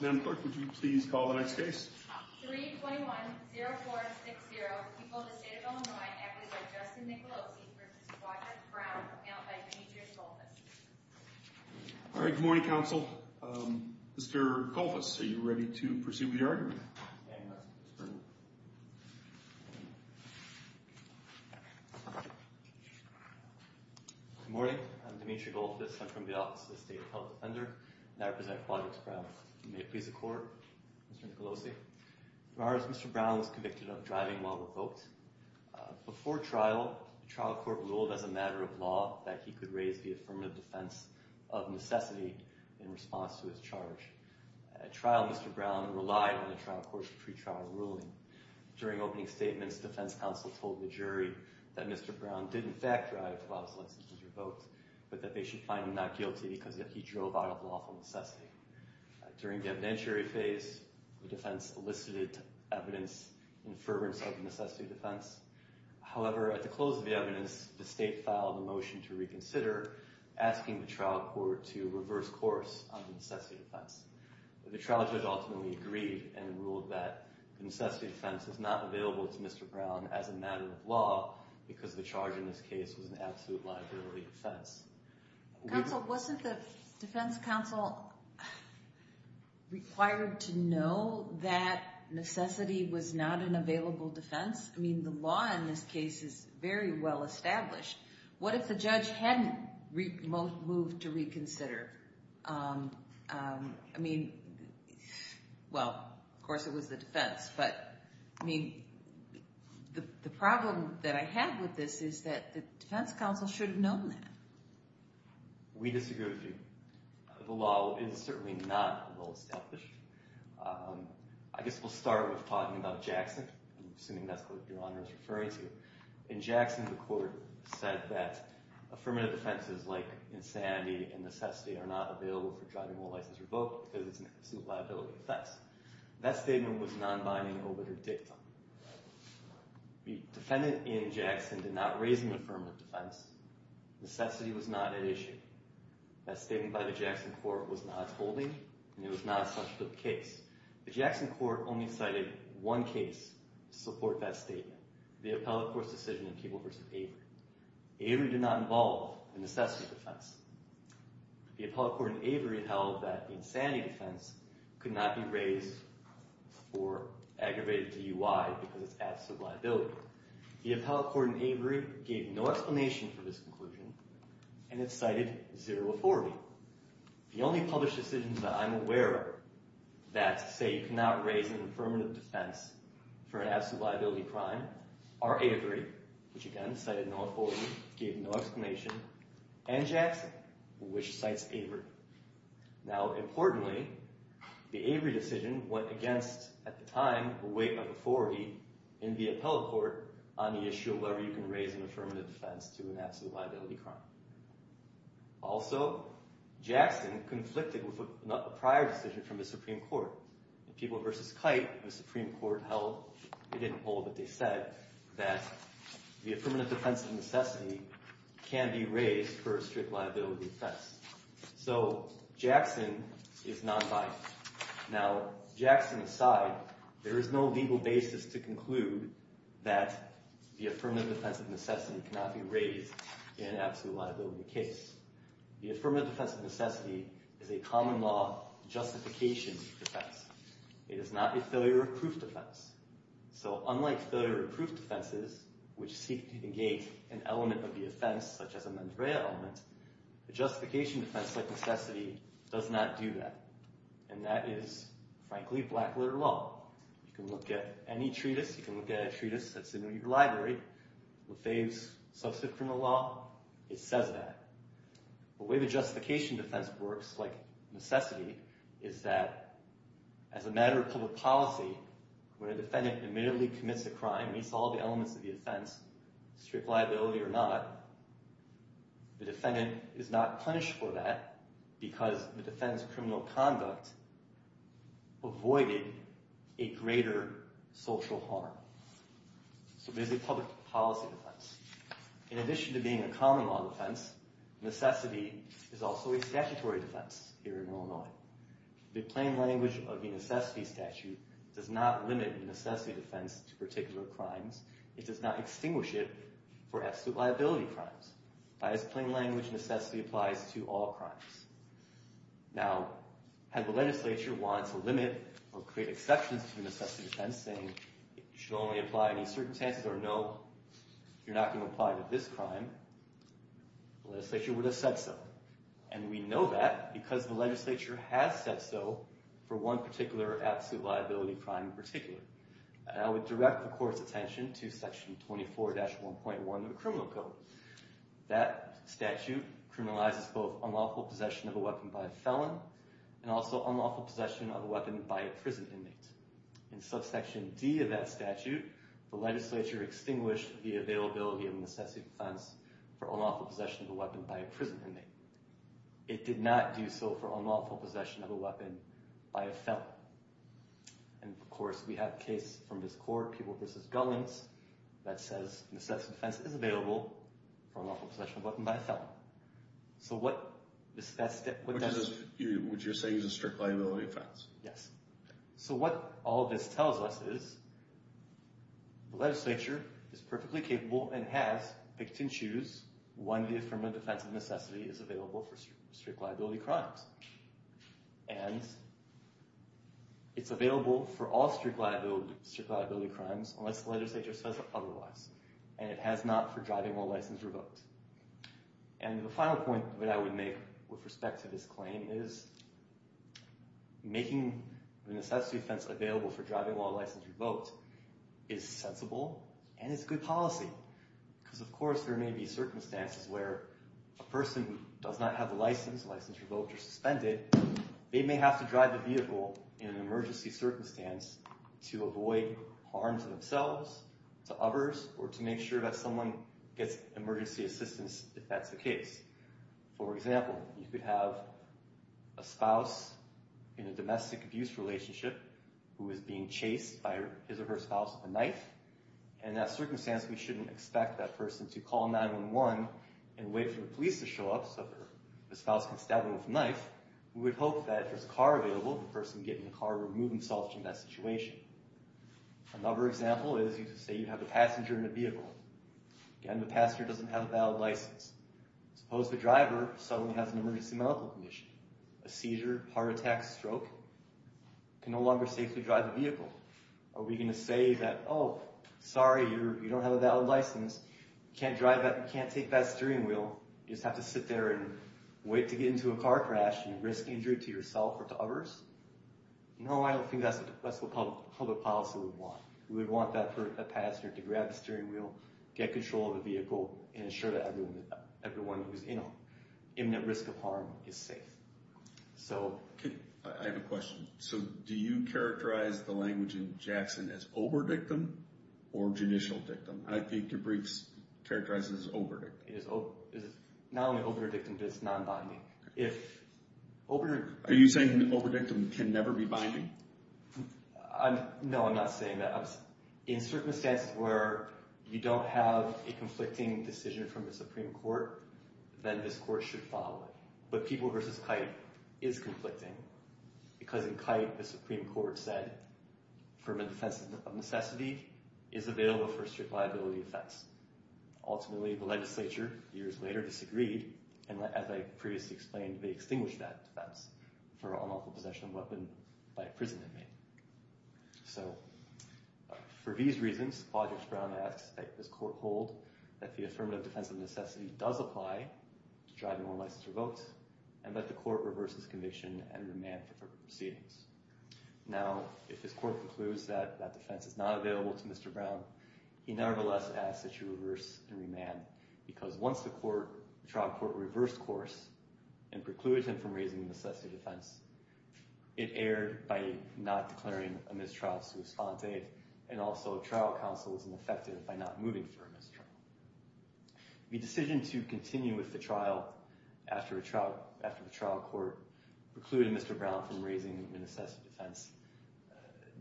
Madam Clerk, would you please call the next case? 321-0460, People of the State of Illinois, acquitted by Justin Nicolosi v. Quadrants Brown, brought to you by Demetrius Goldfuss. All right, good morning, counsel. Mr. Goldfuss, are you ready to proceed with your argument? Yes, Mr. Attorney. Good morning. I'm Demetrius Goldfuss. I'm from the Office of the State Health Defender and I represent Quadrants Brown. May it please the Court, Mr. Nicolosi. For ours, Mr. Brown was convicted of driving while revoked. Before trial, the trial court ruled as a matter of law that he could raise the affirmative defense of necessity in response to his charge. At trial, Mr. Brown relied on the trial court's pre-trial ruling. During opening statements, defense counsel told the jury that Mr. Brown did, in fact, drive while his license was revoked, but that they should find him not guilty because he drove out of lawful necessity. During the evidentiary phase, the defense elicited evidence in fervor of necessity defense. However, at the close of the evidence, the state filed a motion to reconsider, asking the trial court to reverse course on necessity defense. The trial judge ultimately agreed and ruled that necessity defense is not available to Mr. Brown as a matter of law because the charge in this case was an absolute liability defense. Counsel, wasn't the defense counsel required to know that necessity was not an available defense? I mean, the law in this case is very well established. What if the judge hadn't moved to reconsider? I mean, well, of course it was the defense, but I mean, the problem that I have with this is that the defense counsel should have known that. We disagree with you. The law is certainly not well established. I guess we'll start with talking about Jackson. I'm assuming that's what Your Honor is referring to. In Jackson, the court said that affirmative defenses like insanity and necessity are not available for driving while license revoked because it's an absolute liability defense. That statement was non-binding over the dictum. The defendant in Jackson did not raise an affirmative defense. Necessity was not at issue. That statement by the Jackson court was not holding and it was not a substantive case. The Jackson court only cited one case to support that statement, the appellate court's decision in Keeble v. Avery. Avery did not involve a necessity defense. The appellate court in Avery held that the insanity defense could not be raised for aggravated DUI because it's absolute liability. The appellate court in Avery gave no explanation for this conclusion and it cited zero authority. The only published decisions that I'm aware of that say you cannot raise an affirmative defense for an absolute liability crime are Avery, which again, cited no authority, gave no explanation, and Jackson, which cites Avery. Now, importantly, the Avery decision went against, at the time, a weight of authority in the appellate court on the issue of whether you can raise an affirmative defense to an absolute liability crime. Also, Jackson conflicted with a prior decision from the Supreme Court. In Keeble v. Kite, the Supreme Court held, they didn't hold, but they said, that the affirmative defense of necessity can be raised for a strict liability defense. So Jackson is non-binding. Now, Jackson aside, there is no legal basis to conclude that the affirmative defense of necessity cannot be raised in an absolute liability case. The affirmative defense of necessity is a common law justification defense. It is not a failure of proof defense. So unlike failure of proof defenses, which seek to engage an element of the offense, such as a mens rea element, a justification defense like necessity does not do that. And that is, frankly, black-letter law. You can look at any treatise, you can look at a treatise that's in your library, Lefebvre's subsequent law, it says that. The way the justification defense works, like necessity, is that, as a matter of public policy, when a defendant admittedly commits a crime, meets all the elements of the offense, strict liability or not, the defendant is not punished for that because the defendant's criminal conduct avoided a greater social harm. So there's a public policy defense. In addition to being a common law defense, necessity is also a statutory defense here in Illinois. The plain language of the necessity statute does not limit the necessity defense to particular crimes. It does not extinguish it for absolute liability crimes. That is, plain language necessity applies to all crimes. Now, had the legislature wanted to limit or create exceptions to the necessity defense, saying you should only apply any certain chances or no, you're not going to apply to this crime, the legislature would have said so. And we know that because the legislature has said so for one particular absolute liability crime in particular. I would direct the court's attention to section 24-1.1 of the criminal code. That statute criminalizes both unlawful possession of a weapon by a felon and also unlawful possession of a weapon by a prison inmate. In subsection D of that statute, the legislature extinguished the availability of necessity defense for unlawful possession of a weapon by a prison inmate. It did not do so for unlawful possession of a weapon by a felon. And, of course, we have a case from this court, People v. Gullings, that says necessity defense is available for unlawful possession of a weapon by a felon. So what does this... What you're saying is a strict liability offense? Yes. So what all this tells us is the legislature is perfectly capable and has picked and choose when the affirmative defense of necessity is available for strict liability crimes. And it's available for all strict liability crimes unless the legislature says otherwise. And it has not for driving while licensed or revoked. And the final point that I would make with respect to this claim is making the necessity defense available for driving while licensed or revoked is sensible and is good policy. Because, of course, there may be circumstances where a person who does not have a license, license revoked or suspended, they may have to drive the vehicle in an emergency circumstance to avoid harm to themselves, to others, or to make sure that someone gets emergency assistance if that's the case. For example, you could have a spouse in a domestic abuse relationship and in that circumstance we shouldn't expect that person to call 911 and wait for the police to show up so the spouse can stab him with a knife. We would hope that if there's a car available, the person would get in the car and remove themselves from that situation. Another example is you could say you have a passenger in a vehicle. Again, the passenger doesn't have a valid license. Suppose the driver suddenly has an emergency medical condition, are we going to say that, oh, sorry, you don't have a valid license, you can't take that steering wheel, you just have to sit there and wait to get into a car crash and risk injury to yourself or to others? No, I don't think that's what public policy would want. We would want that passenger to grab the steering wheel, get control of the vehicle, and ensure that everyone who's in it, imminent risk of harm, is safe. I have a question. Do you characterize the language in Jackson as oberdictum or judicial dictum? I think your briefs characterize it as oberdictum. It's not only oberdictum, but it's non-binding. Are you saying oberdictum can never be binding? No, I'm not saying that. In circumstances where you don't have a conflicting decision from the Supreme Court, then this court should follow it. But People v. Kite is conflicting because in Kite the Supreme Court said affirmative defense of necessity is available for strict liability offense. Ultimately, the legislature, years later, disagreed, and as I previously explained, they extinguished that defense for unlawful possession of a weapon by a prison inmate. So for these reasons, Project Brown asks that this court hold that the affirmative defense of necessity does apply to drive no one license revoked, and that the court reverse its conviction and remand for proceedings. Now, if this court precludes that that defense is not available to Mr. Brown, he nevertheless asks that you reverse and remand because once the trial court reversed course and precluded him from raising the necessity defense, it erred by not declaring a mistrial sui sponte, and also trial counsel was unaffected by not moving for a mistrial. The decision to continue with the trial after the trial court precluded Mr. Brown from raising the necessity defense,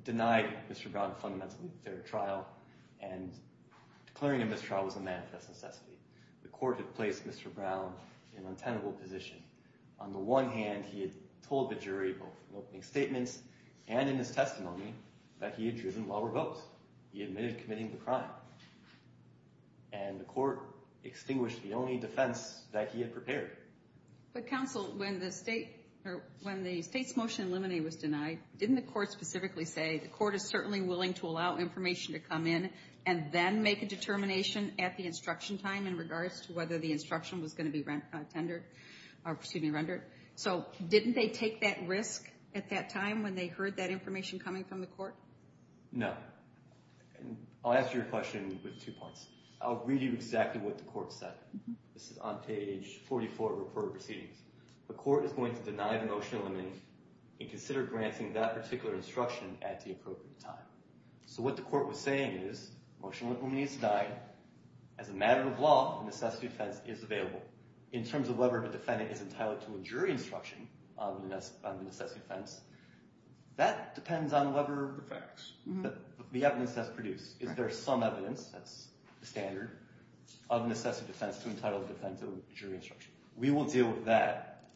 denied Mr. Brown fundamentally fair trial, and declaring a mistrial was a manifest necessity. The court had placed Mr. Brown in untenable position. On the one hand, he had told the jury both in opening statements and in his testimony that he had driven law revoked. On the other hand, he admitted committing the crime, and the court extinguished the only defense that he had prepared. But, counsel, when the state's motion to eliminate was denied, didn't the court specifically say, the court is certainly willing to allow information to come in and then make a determination at the instruction time in regards to whether the instruction was going to be rendered? So didn't they take that risk at that time when they heard that information coming from the court? No. I'll answer your question with two points. I'll read you exactly what the court said. This is on page 44 of the court of proceedings. The court is going to deny the motion to eliminate and consider granting that particular instruction at the appropriate time. So what the court was saying is, the motion to eliminate is denied. As a matter of law, the necessity defense is available. In terms of whether the defendant is entitled to a jury instruction on the necessity defense, that depends on whatever the evidence that's produced. Is there some evidence, that's the standard, of necessity defense to entitle the defendant to a jury instruction? We will deal with that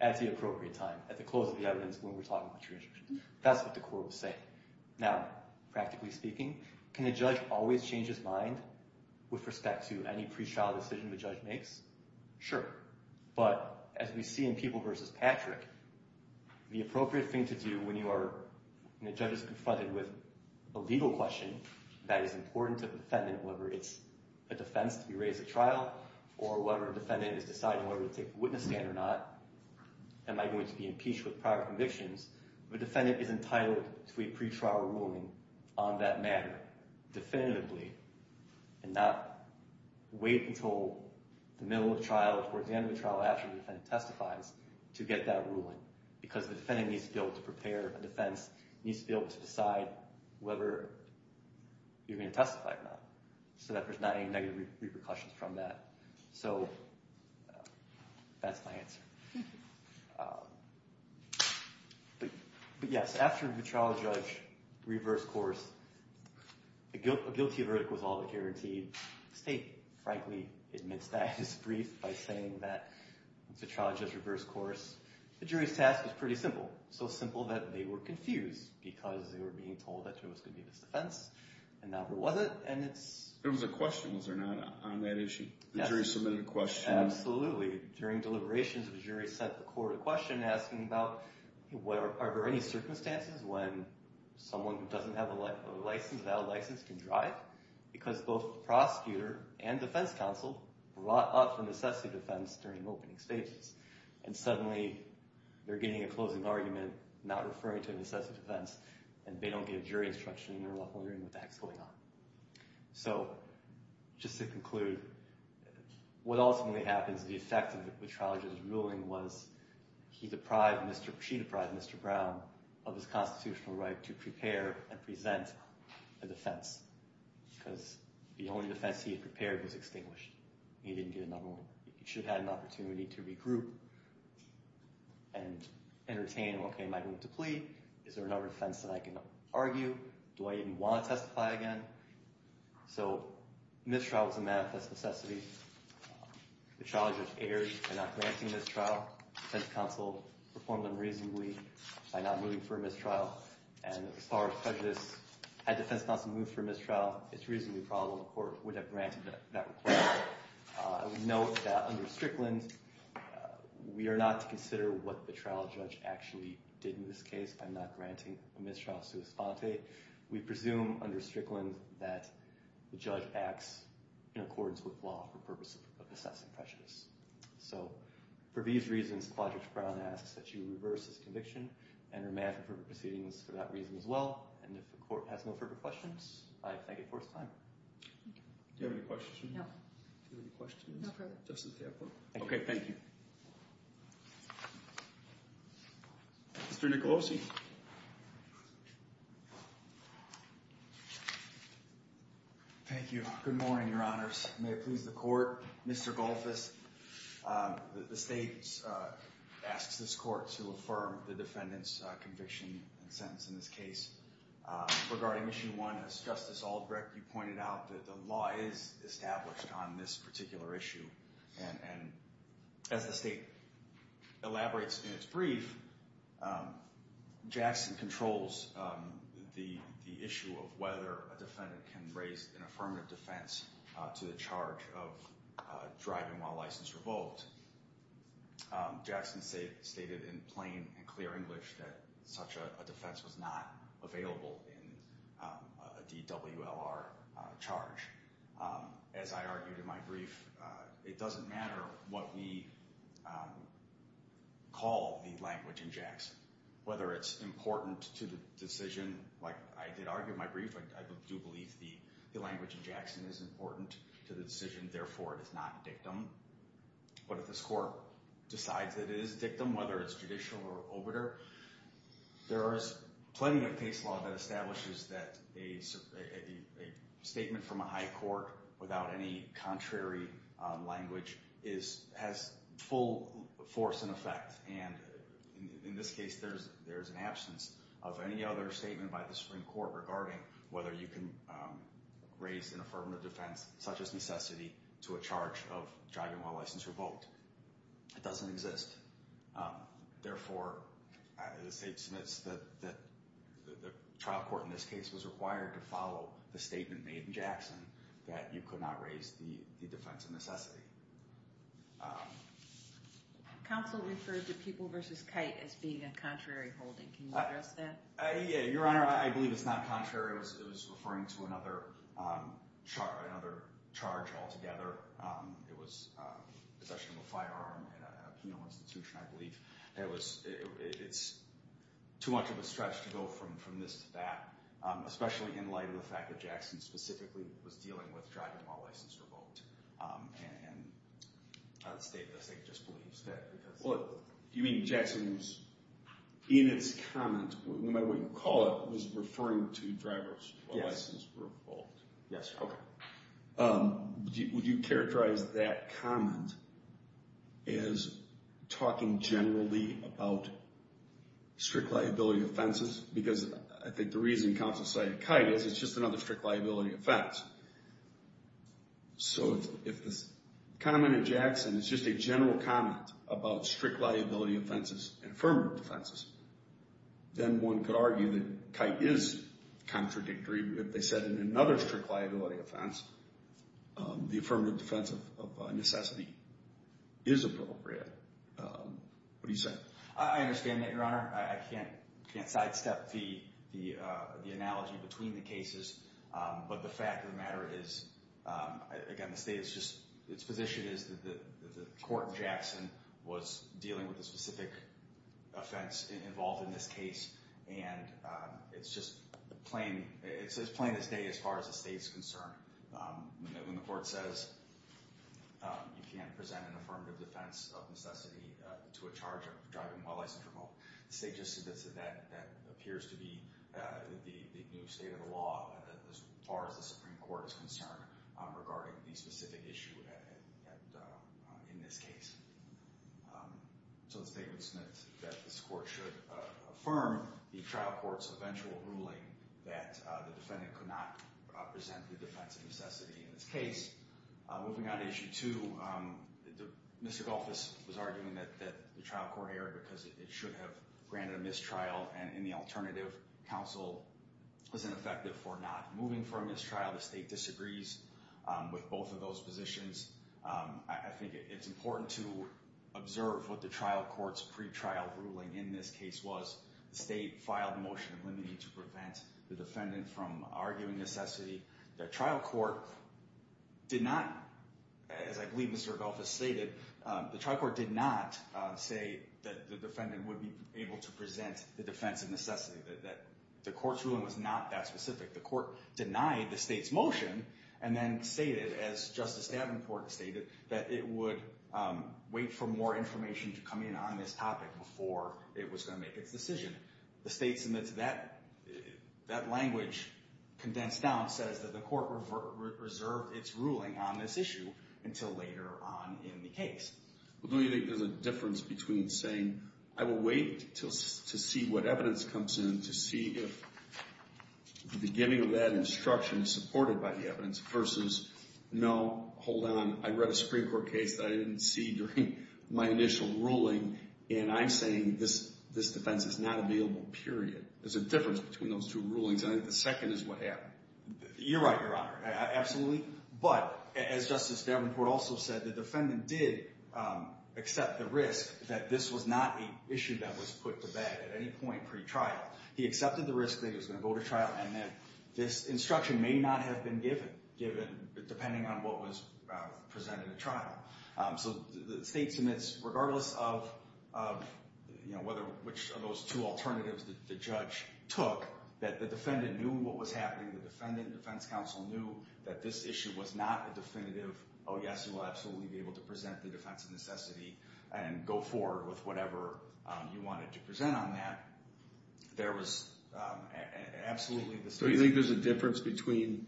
at the appropriate time, at the close of the evidence when we're talking about jury instruction. That's what the court was saying. Now, practically speaking, can a judge always change his mind with respect to any pre-trial decision the judge makes? Sure. But, as we see in Peeble v. Patrick, the appropriate thing to do when you are, when a judge is confronted with a legal question that is important to the defendant, whether it's a defense to be raised at trial, or whether a defendant is deciding whether to take the witness stand or not, am I going to be impeached with prior convictions, the defendant is entitled to a pre-trial ruling on that matter, definitively, and not wait until the middle of trial, or at the end of the trial after the defendant testifies, to get that ruling, because the defendant needs to be able to prepare a defense, needs to be able to decide whether you're going to testify or not, so that there's not any negative repercussions from that. So, that's my answer. But yes, after the trial judge reversed course, a guilty verdict was all but guaranteed. The state, frankly, admits that. I just briefed by saying that the trial judge reversed course. The jury's task was pretty simple, so simple that they were confused, because they were being told that there was going to be this defense, and now there wasn't, and it's... There was a question, was there not, on that issue? Yes. The jury submitted a question. Absolutely. During deliberations, the jury sent the court a question asking about, are there any circumstances when someone who doesn't have a license, without a license, can drive? Because both the prosecutor and defense counsel brought up the necessity of defense during the opening stages, and suddenly they're getting a closing argument not referring to a necessity of defense, and they don't get a jury instruction, and they're wondering what the heck's going on. So, just to conclude, what ultimately happens, the effect of the trial judge's ruling was he deprived, she deprived Mr. Brown of his constitutional right to prepare and present a defense, because the only defense he had prepared was extinguished. He didn't get another one. He should have had an opportunity to regroup and entertain, okay, am I going to plead? Is there another defense that I can argue? Do I even want to testify again? So, mistrial was a manifest necessity. The trial judge erred in not granting mistrial. Defense counsel performed unreasonably by not moving for a mistrial, and as far as prejudice, had defense counsel moved for a mistrial, it's reasonably probable the court would have granted that request. I would note that under Strickland, we are not to consider what the trial judge actually did in this case by not granting a mistrial sua sponte. We presume under Strickland that the judge acts in accordance with law for purposes of assessing prejudice. So, for these reasons, Clodridge-Brown asks that you reverse this conviction and remand for proceedings for that reason as well, and if the court has no further questions, I thank it for its time. Do you have any questions? No. Do you have any questions? No further. Okay, thank you. Mr. Nicolosi. Thank you. Good morning, your honors. May it please the court. Mr. Golthus, the state asks this court to affirm the defendant's conviction and sentence in this case. Regarding Issue 1, as Justice Aldrich, you pointed out, the law is established on this particular issue, and as the state elaborates in its brief, Jackson controls the issue of whether a defendant can raise an affirmative defense to the charge of driving while license revoked. Jackson stated in plain and clear English that such a defense was not available in a DWLR charge. As I argued in my brief, it doesn't matter what we call the language in Jackson. Whether it's important to the decision, like I did argue in my brief, I do believe the language in Jackson is important to the decision. Therefore, it is not a dictum. But if this court decides that it is a dictum, whether it's judicial or obiter, there is plenty of case law that establishes that a statement from a high court without any contrary language has full force and effect. And in this case, there's an absence of any other statement by the Supreme Court regarding whether you can raise an affirmative defense such as necessity to a charge of driving while license revoked. It doesn't exist. Therefore, the state submits that the trial court in this case was required to follow the statement made in Jackson that you could not raise the defense of necessity. Counsel referred to Pupil v. Kite as being a contrary holding. Can you address that? Your Honor, I believe it's not contrary. It was referring to another charge altogether. It was possession of a firearm at a penal institution, I believe. It's too much of a stretch to go from this to that, especially in light of the fact that Jackson specifically was dealing with driving while license revoked. And the state just believes that. Do you mean Jackson was in its comment, no matter what you call it, was referring to drivers while license revoked? Yes, Your Honor. Would you characterize that comment as talking generally about strict liability offenses? Because I think the reason counsel cited Kite is it's just another strict liability offense. So if the comment in Jackson is just a general comment about strict liability offenses and affirmative defenses, then one could argue that Kite is contradictory. If they said in another strict liability offense, the affirmative defense of necessity is appropriate. What do you say? I understand that, Your Honor. I can't sidestep the analogy between the cases, but the fact of the matter is, again, the state's position is that the court in Jackson was dealing with a specific offense involved in this case, and it's just plain as day as far as the state's concerned. When the court says you can't present an affirmative defense of necessity to a charge of driving while license revoked, the state just admits that that appears to be the new state of the law as far as the Supreme Court is concerned regarding the specific issue in this case. So the state admits that this court should affirm the trial court's eventual ruling that the defendant could not present the defense of necessity in this case. Moving on to Issue 2, Mr. Golphis was arguing that the trial court erred because it should have granted a mistrial, and in the alternative, counsel is ineffective for not moving for a mistrial. The state disagrees with both of those positions. I think it's important to observe what the trial court's pre-trial ruling in this case was. The state filed a motion limiting it to prevent the defendant from arguing necessity. The trial court did not, as I believe Mr. Golphis stated, the trial court did not say that the defendant would be able to present the defense of necessity. The court's ruling was not that specific. The court denied the state's motion and then stated, as Justice Davenport stated, that it would wait for more information to come in on this topic before it was going to make its decision. The state admits that language condensed down, says that the court reserved its ruling on this issue until later on in the case. Well, don't you think there's a difference between saying, I will wait to see what evidence comes in to see if the beginning of that instruction is supported by the evidence versus, no, hold on, I read a Supreme Court case that I didn't see during my initial ruling, and I'm saying this defense is not available, period. There's a difference between those two rulings, and I think the second is what happened. You're right, Your Honor, absolutely. But, as Justice Davenport also said, the defendant did accept the risk that this was not an issue that was put to bed at any point pre-trial. He accepted the risk that he was going to go to trial and that this instruction may not have been given, depending on what was presented at trial. So the state submits, regardless of which of those two alternatives the judge took, that the defendant knew what was happening, the defendant defense counsel knew that this issue was not a definitive, oh, yes, you will absolutely be able to present the defense of necessity and go forward with whatever you wanted to present on that. There was absolutely the same. So you think there's a difference between,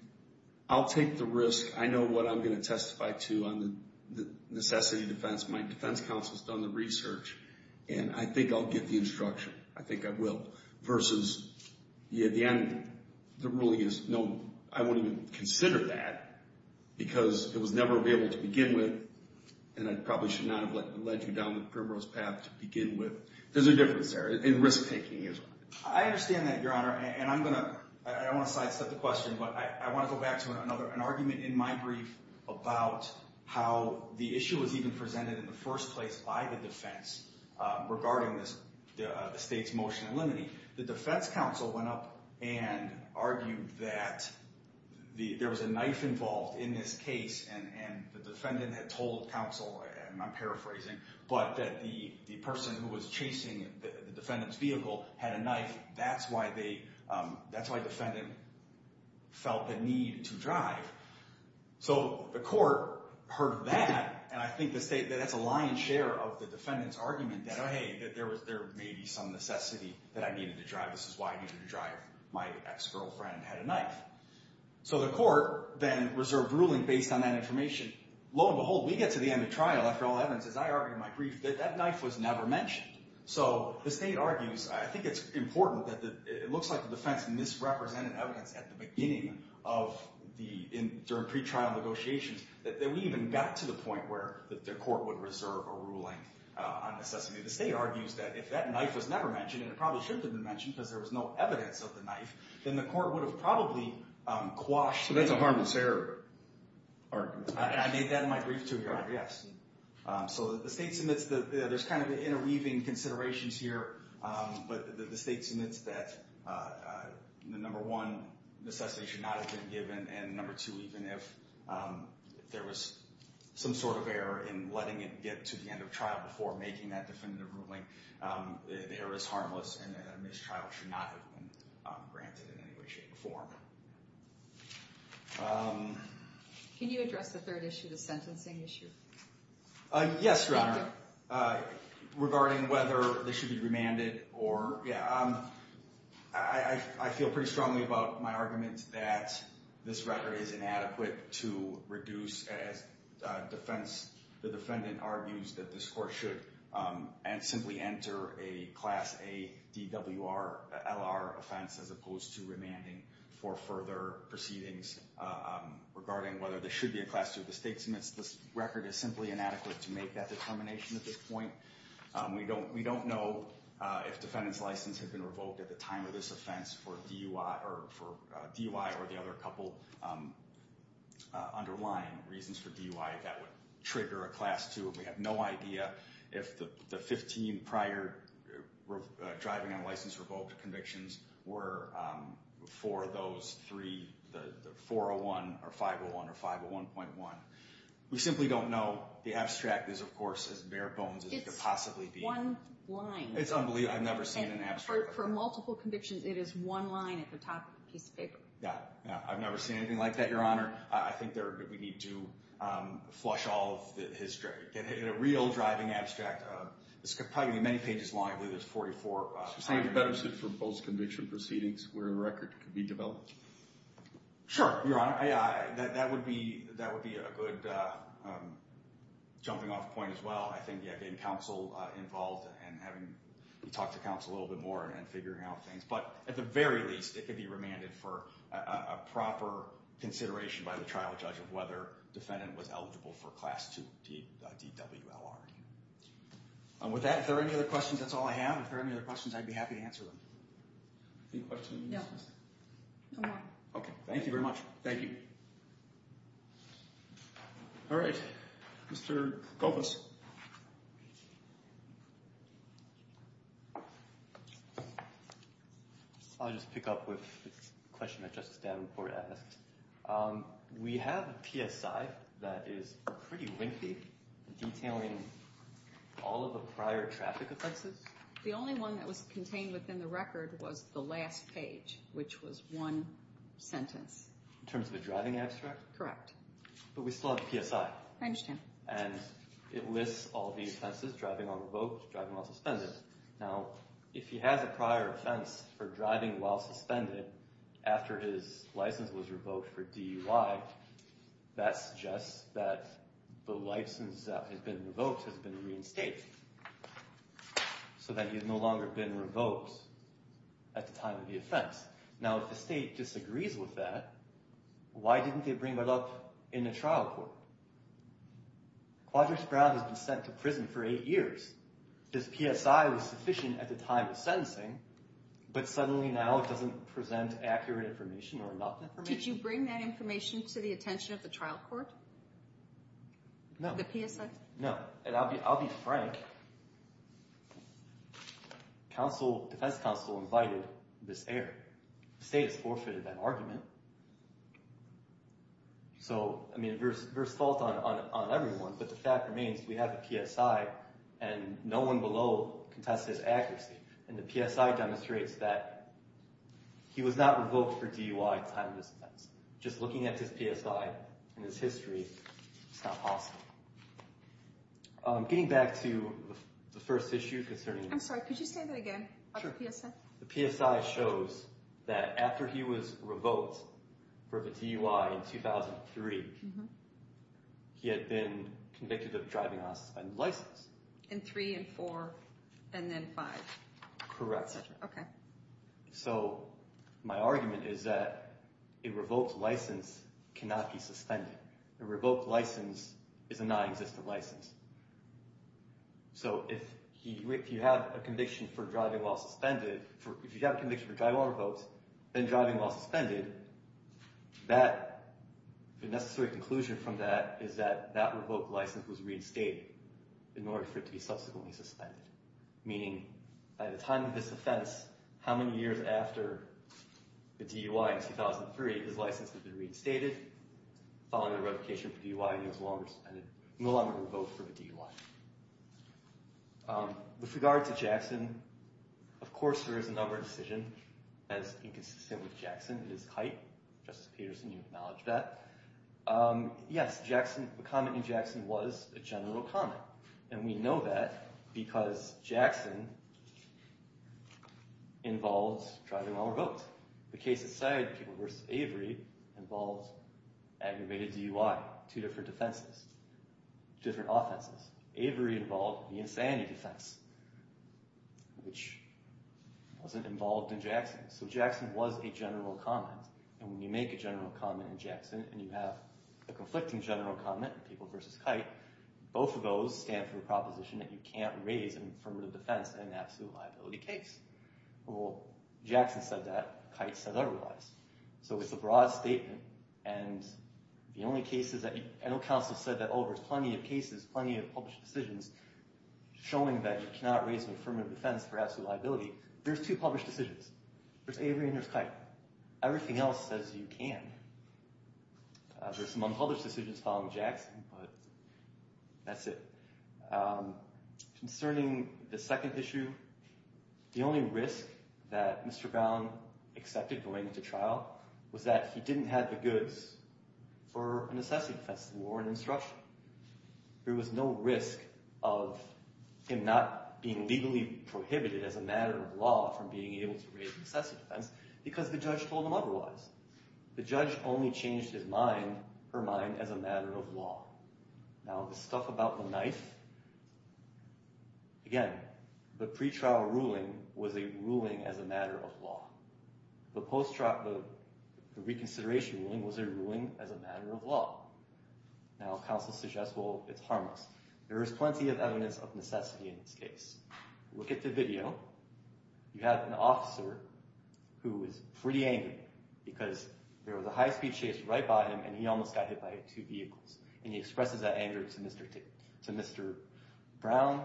I'll take the risk, I know what I'm going to testify to on the necessity defense, my defense counsel's done the research, and I think I'll get the instruction, I think I will, versus, at the end, the ruling is, no, I wouldn't even consider that because it was never available to begin with, and I probably should not have led you down the primrose path to begin with. There's a difference there in risk taking. I understand that, Your Honor, and I'm going to, I don't want to sidestep the question, but I want to go back to another, an argument in my brief about how the issue was even presented in the first place by the defense regarding the state's motion in limine. The defense counsel went up and argued that there was a knife involved in this case, and the defendant had told counsel, and I'm paraphrasing, but that the person who was chasing the defendant's vehicle had a knife. That's why the defendant felt the need to drive. So the court heard that, and I think the state, that's a lion's share of the defendant's argument that, hey, there may be some necessity that I needed to drive. This is why I needed to drive. My ex-girlfriend had a knife. So the court then reserved ruling based on that information. Lo and behold, we get to the end of trial, after all the evidence, as I argued in my brief, that that knife was never mentioned. So the state argues, I think it's important, that it looks like the defense misrepresented evidence at the beginning during pretrial negotiations that we even got to the point where the court would reserve a ruling on necessity. The state argues that if that knife was never mentioned, and it probably should have been mentioned, because there was no evidence of the knife, then the court would have probably quashed the argument. So that's a harmless error argument. I made that in my brief, too, Your Honor, yes. So the state submits, there's kind of interweaving considerations here, but the state submits that, number one, necessity should not have been given, and number two, even if there was some sort of error in letting it get to the end of trial before making that definitive ruling, the error is harmless, and a missed trial should not have been granted in any way, shape, or form. Can you address the third issue, the sentencing issue? Yes, Your Honor. Regarding whether they should be remanded or, yeah, I feel pretty strongly about my argument that this record is inadequate to reduce, as the defendant argues that this court should simply enter a Class A DWR LR offense as opposed to remanding for further proceedings. Regarding whether there should be a Class 2, the state submits this record is simply inadequate to make that determination at this point. We don't know if defendant's license had been revoked at the time of this offense for DUI or the other couple underlying reasons for DUI that would trigger a Class 2. We have no idea if the 15 prior driving on license revoked convictions were for those three, the 401, or 501, or 501.1. We simply don't know. The abstract is, of course, as bare bones as it could possibly be. It's one line. It's unbelievable. I've never seen an abstract. For multiple convictions, it is one line at the top of a piece of paper. Yeah. I've never seen anything like that, Your Honor. I think we need to flush all of the history, get a real driving abstract. This could probably be many pages long. I believe it's 44. So it's a better suit for post-conviction proceedings where a record could be developed? Sure, Your Honor. That would be a good jumping off point as well. I think getting counsel involved and having you talk to counsel a little bit more and figuring out things. But at the very least, it could be remanded for a proper consideration by the trial judge of whether defendant was eligible for Class 2 DWLR. With that, if there are any other questions, that's all I have. If there are any other questions, I'd be happy to answer them. Any questions? No. No more. Okay. Thank you very much. Thank you. All right. Mr. Koufos. I'll just pick up with a question that Justice Davenport asked. We have a PSI that is pretty lengthy, detailing all of the prior traffic offenses. The only one that was contained within the record was the last page, which was one sentence. In terms of a driving abstract? Correct. But we still have the PSI. I understand. And it lists all the offenses, driving on revoked, driving while suspended. Now, if he has a prior offense for driving while suspended, after his license was revoked for DUI, that suggests that the license that has been revoked has been reinstated, so that he has no longer been revoked at the time of the offense. Now, if the state disagrees with that, why didn't they bring that up in a trial court? Quadric Brown has been sent to prison for eight years. His PSI was sufficient at the time of sentencing, but suddenly now it doesn't present accurate information or enough information. Did you bring that information to the attention of the trial court? No. The PSI? No. And I'll be frank. Defense counsel invited this error. The state has forfeited that argument. So, I mean, there's fault on everyone, but the fact remains we have a PSI, and no one below contested his accuracy. And the PSI demonstrates that he was not revoked for DUI at the time of his offense. Just looking at his PSI and his history, it's not possible. Getting back to the first issue concerning... I'm sorry, could you say that again about the PSI? Sure. The PSI shows that after he was revoked for the DUI in 2003, he had been convicted of driving while suspended with a license. In three and four and then five. Correct. Okay. So my argument is that a revoked license cannot be suspended. A revoked license is a non-existent license. So if you have a conviction for driving while suspended, if you have a conviction for driving while revoked, then driving while suspended, the necessary conclusion from that is that that revoked license was reinstated in order for it to be subsequently suspended. Meaning, by the time of his offense, how many years after the DUI in 2003, his license had been reinstated following a revocation for DUI and he was no longer revoked for the DUI. With regard to Jackson, of course there is a number of decisions as inconsistent with Jackson is height. Justice Peterson, you acknowledged that. Yes, the comment in Jackson was a general comment. And we know that because Jackson involved driving while revoked. The case aside, the case of Avery involved aggravated DUI, two different defenses, different offenses. Avery involved the insanity defense, which wasn't involved in Jackson. So Jackson was a general comment. And when you make a general comment in Jackson and you have a conflicting general comment, people versus height, both of those stand for a proposition that you can't raise an affirmative defense in an absolute liability case. Well, Jackson said that. Height said otherwise. So it's a broad statement. And the only case is that, and the counsel said that, oh, there's plenty of cases, plenty of published decisions showing that you cannot raise an affirmative defense for absolute liability. There's two published decisions. There's Avery and there's height. Everything else says you can. There's some unpublished decisions following Jackson, but that's it. Concerning the second issue, the only risk that Mr. Brown accepted going into trial was that he didn't have the goods for an necessity defense, the warrant and instruction. There was no risk of him not being legally prohibited as a matter of law from being able to raise a necessity defense because the judge told him otherwise. The judge only changed her mind as a matter of law. Now, the stuff about the knife, again, the pretrial ruling was a ruling as a matter of law. The reconsideration ruling was a ruling as a matter of law. Now, counsel suggests, well, it's harmless. There is plenty of evidence of necessity in this case. Look at the video. You have an officer who is pretty angry because there was a high-speed chase right by him and he almost got hit by two vehicles, and he expresses that anger to Mr. Brown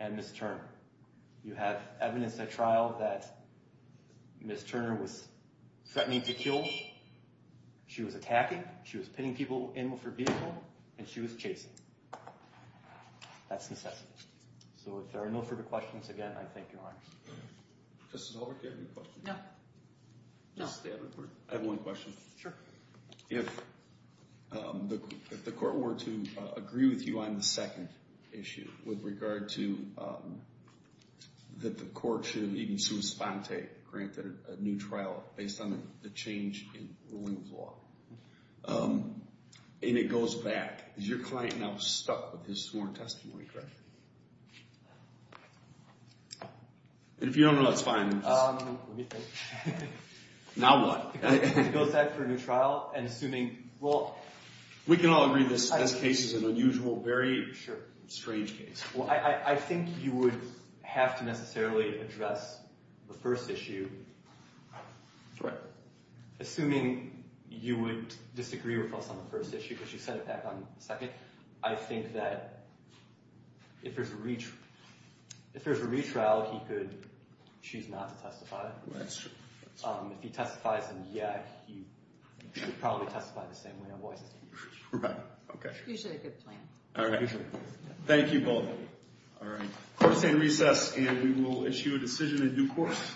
and Ms. Turner. You have evidence at trial that Ms. Turner was threatening to kill. She was attacking. She was pitting people in with her vehicle, and she was chasing. That's necessity. So if there are no further questions, again, I thank you, Your Honor. Justice Holbrook, do you have any questions? No. No. I have one question. Sure. If the court were to agree with you on the second issue with regard to that the court should have even sui sponte, granted a new trial based on the change in ruling of law, and it goes back, is your client now stuck with his sworn testimony, correct? If you don't know, that's fine. Let me think. Now what? It goes back to a new trial and assuming, well... We can all agree this case is an unusual, very strange case. Well, I think you would have to necessarily address the first issue. Correct. Assuming you would disagree with us on the first issue because you said it back on the second, I think that if there's a retrial, he could choose not to testify. That's true. If he testifies, then, yeah, he would probably testify the same way. Right, okay. Usually a good plan. All right. Thank you both. All right. Court is in recess, and we will issue a decision in due course.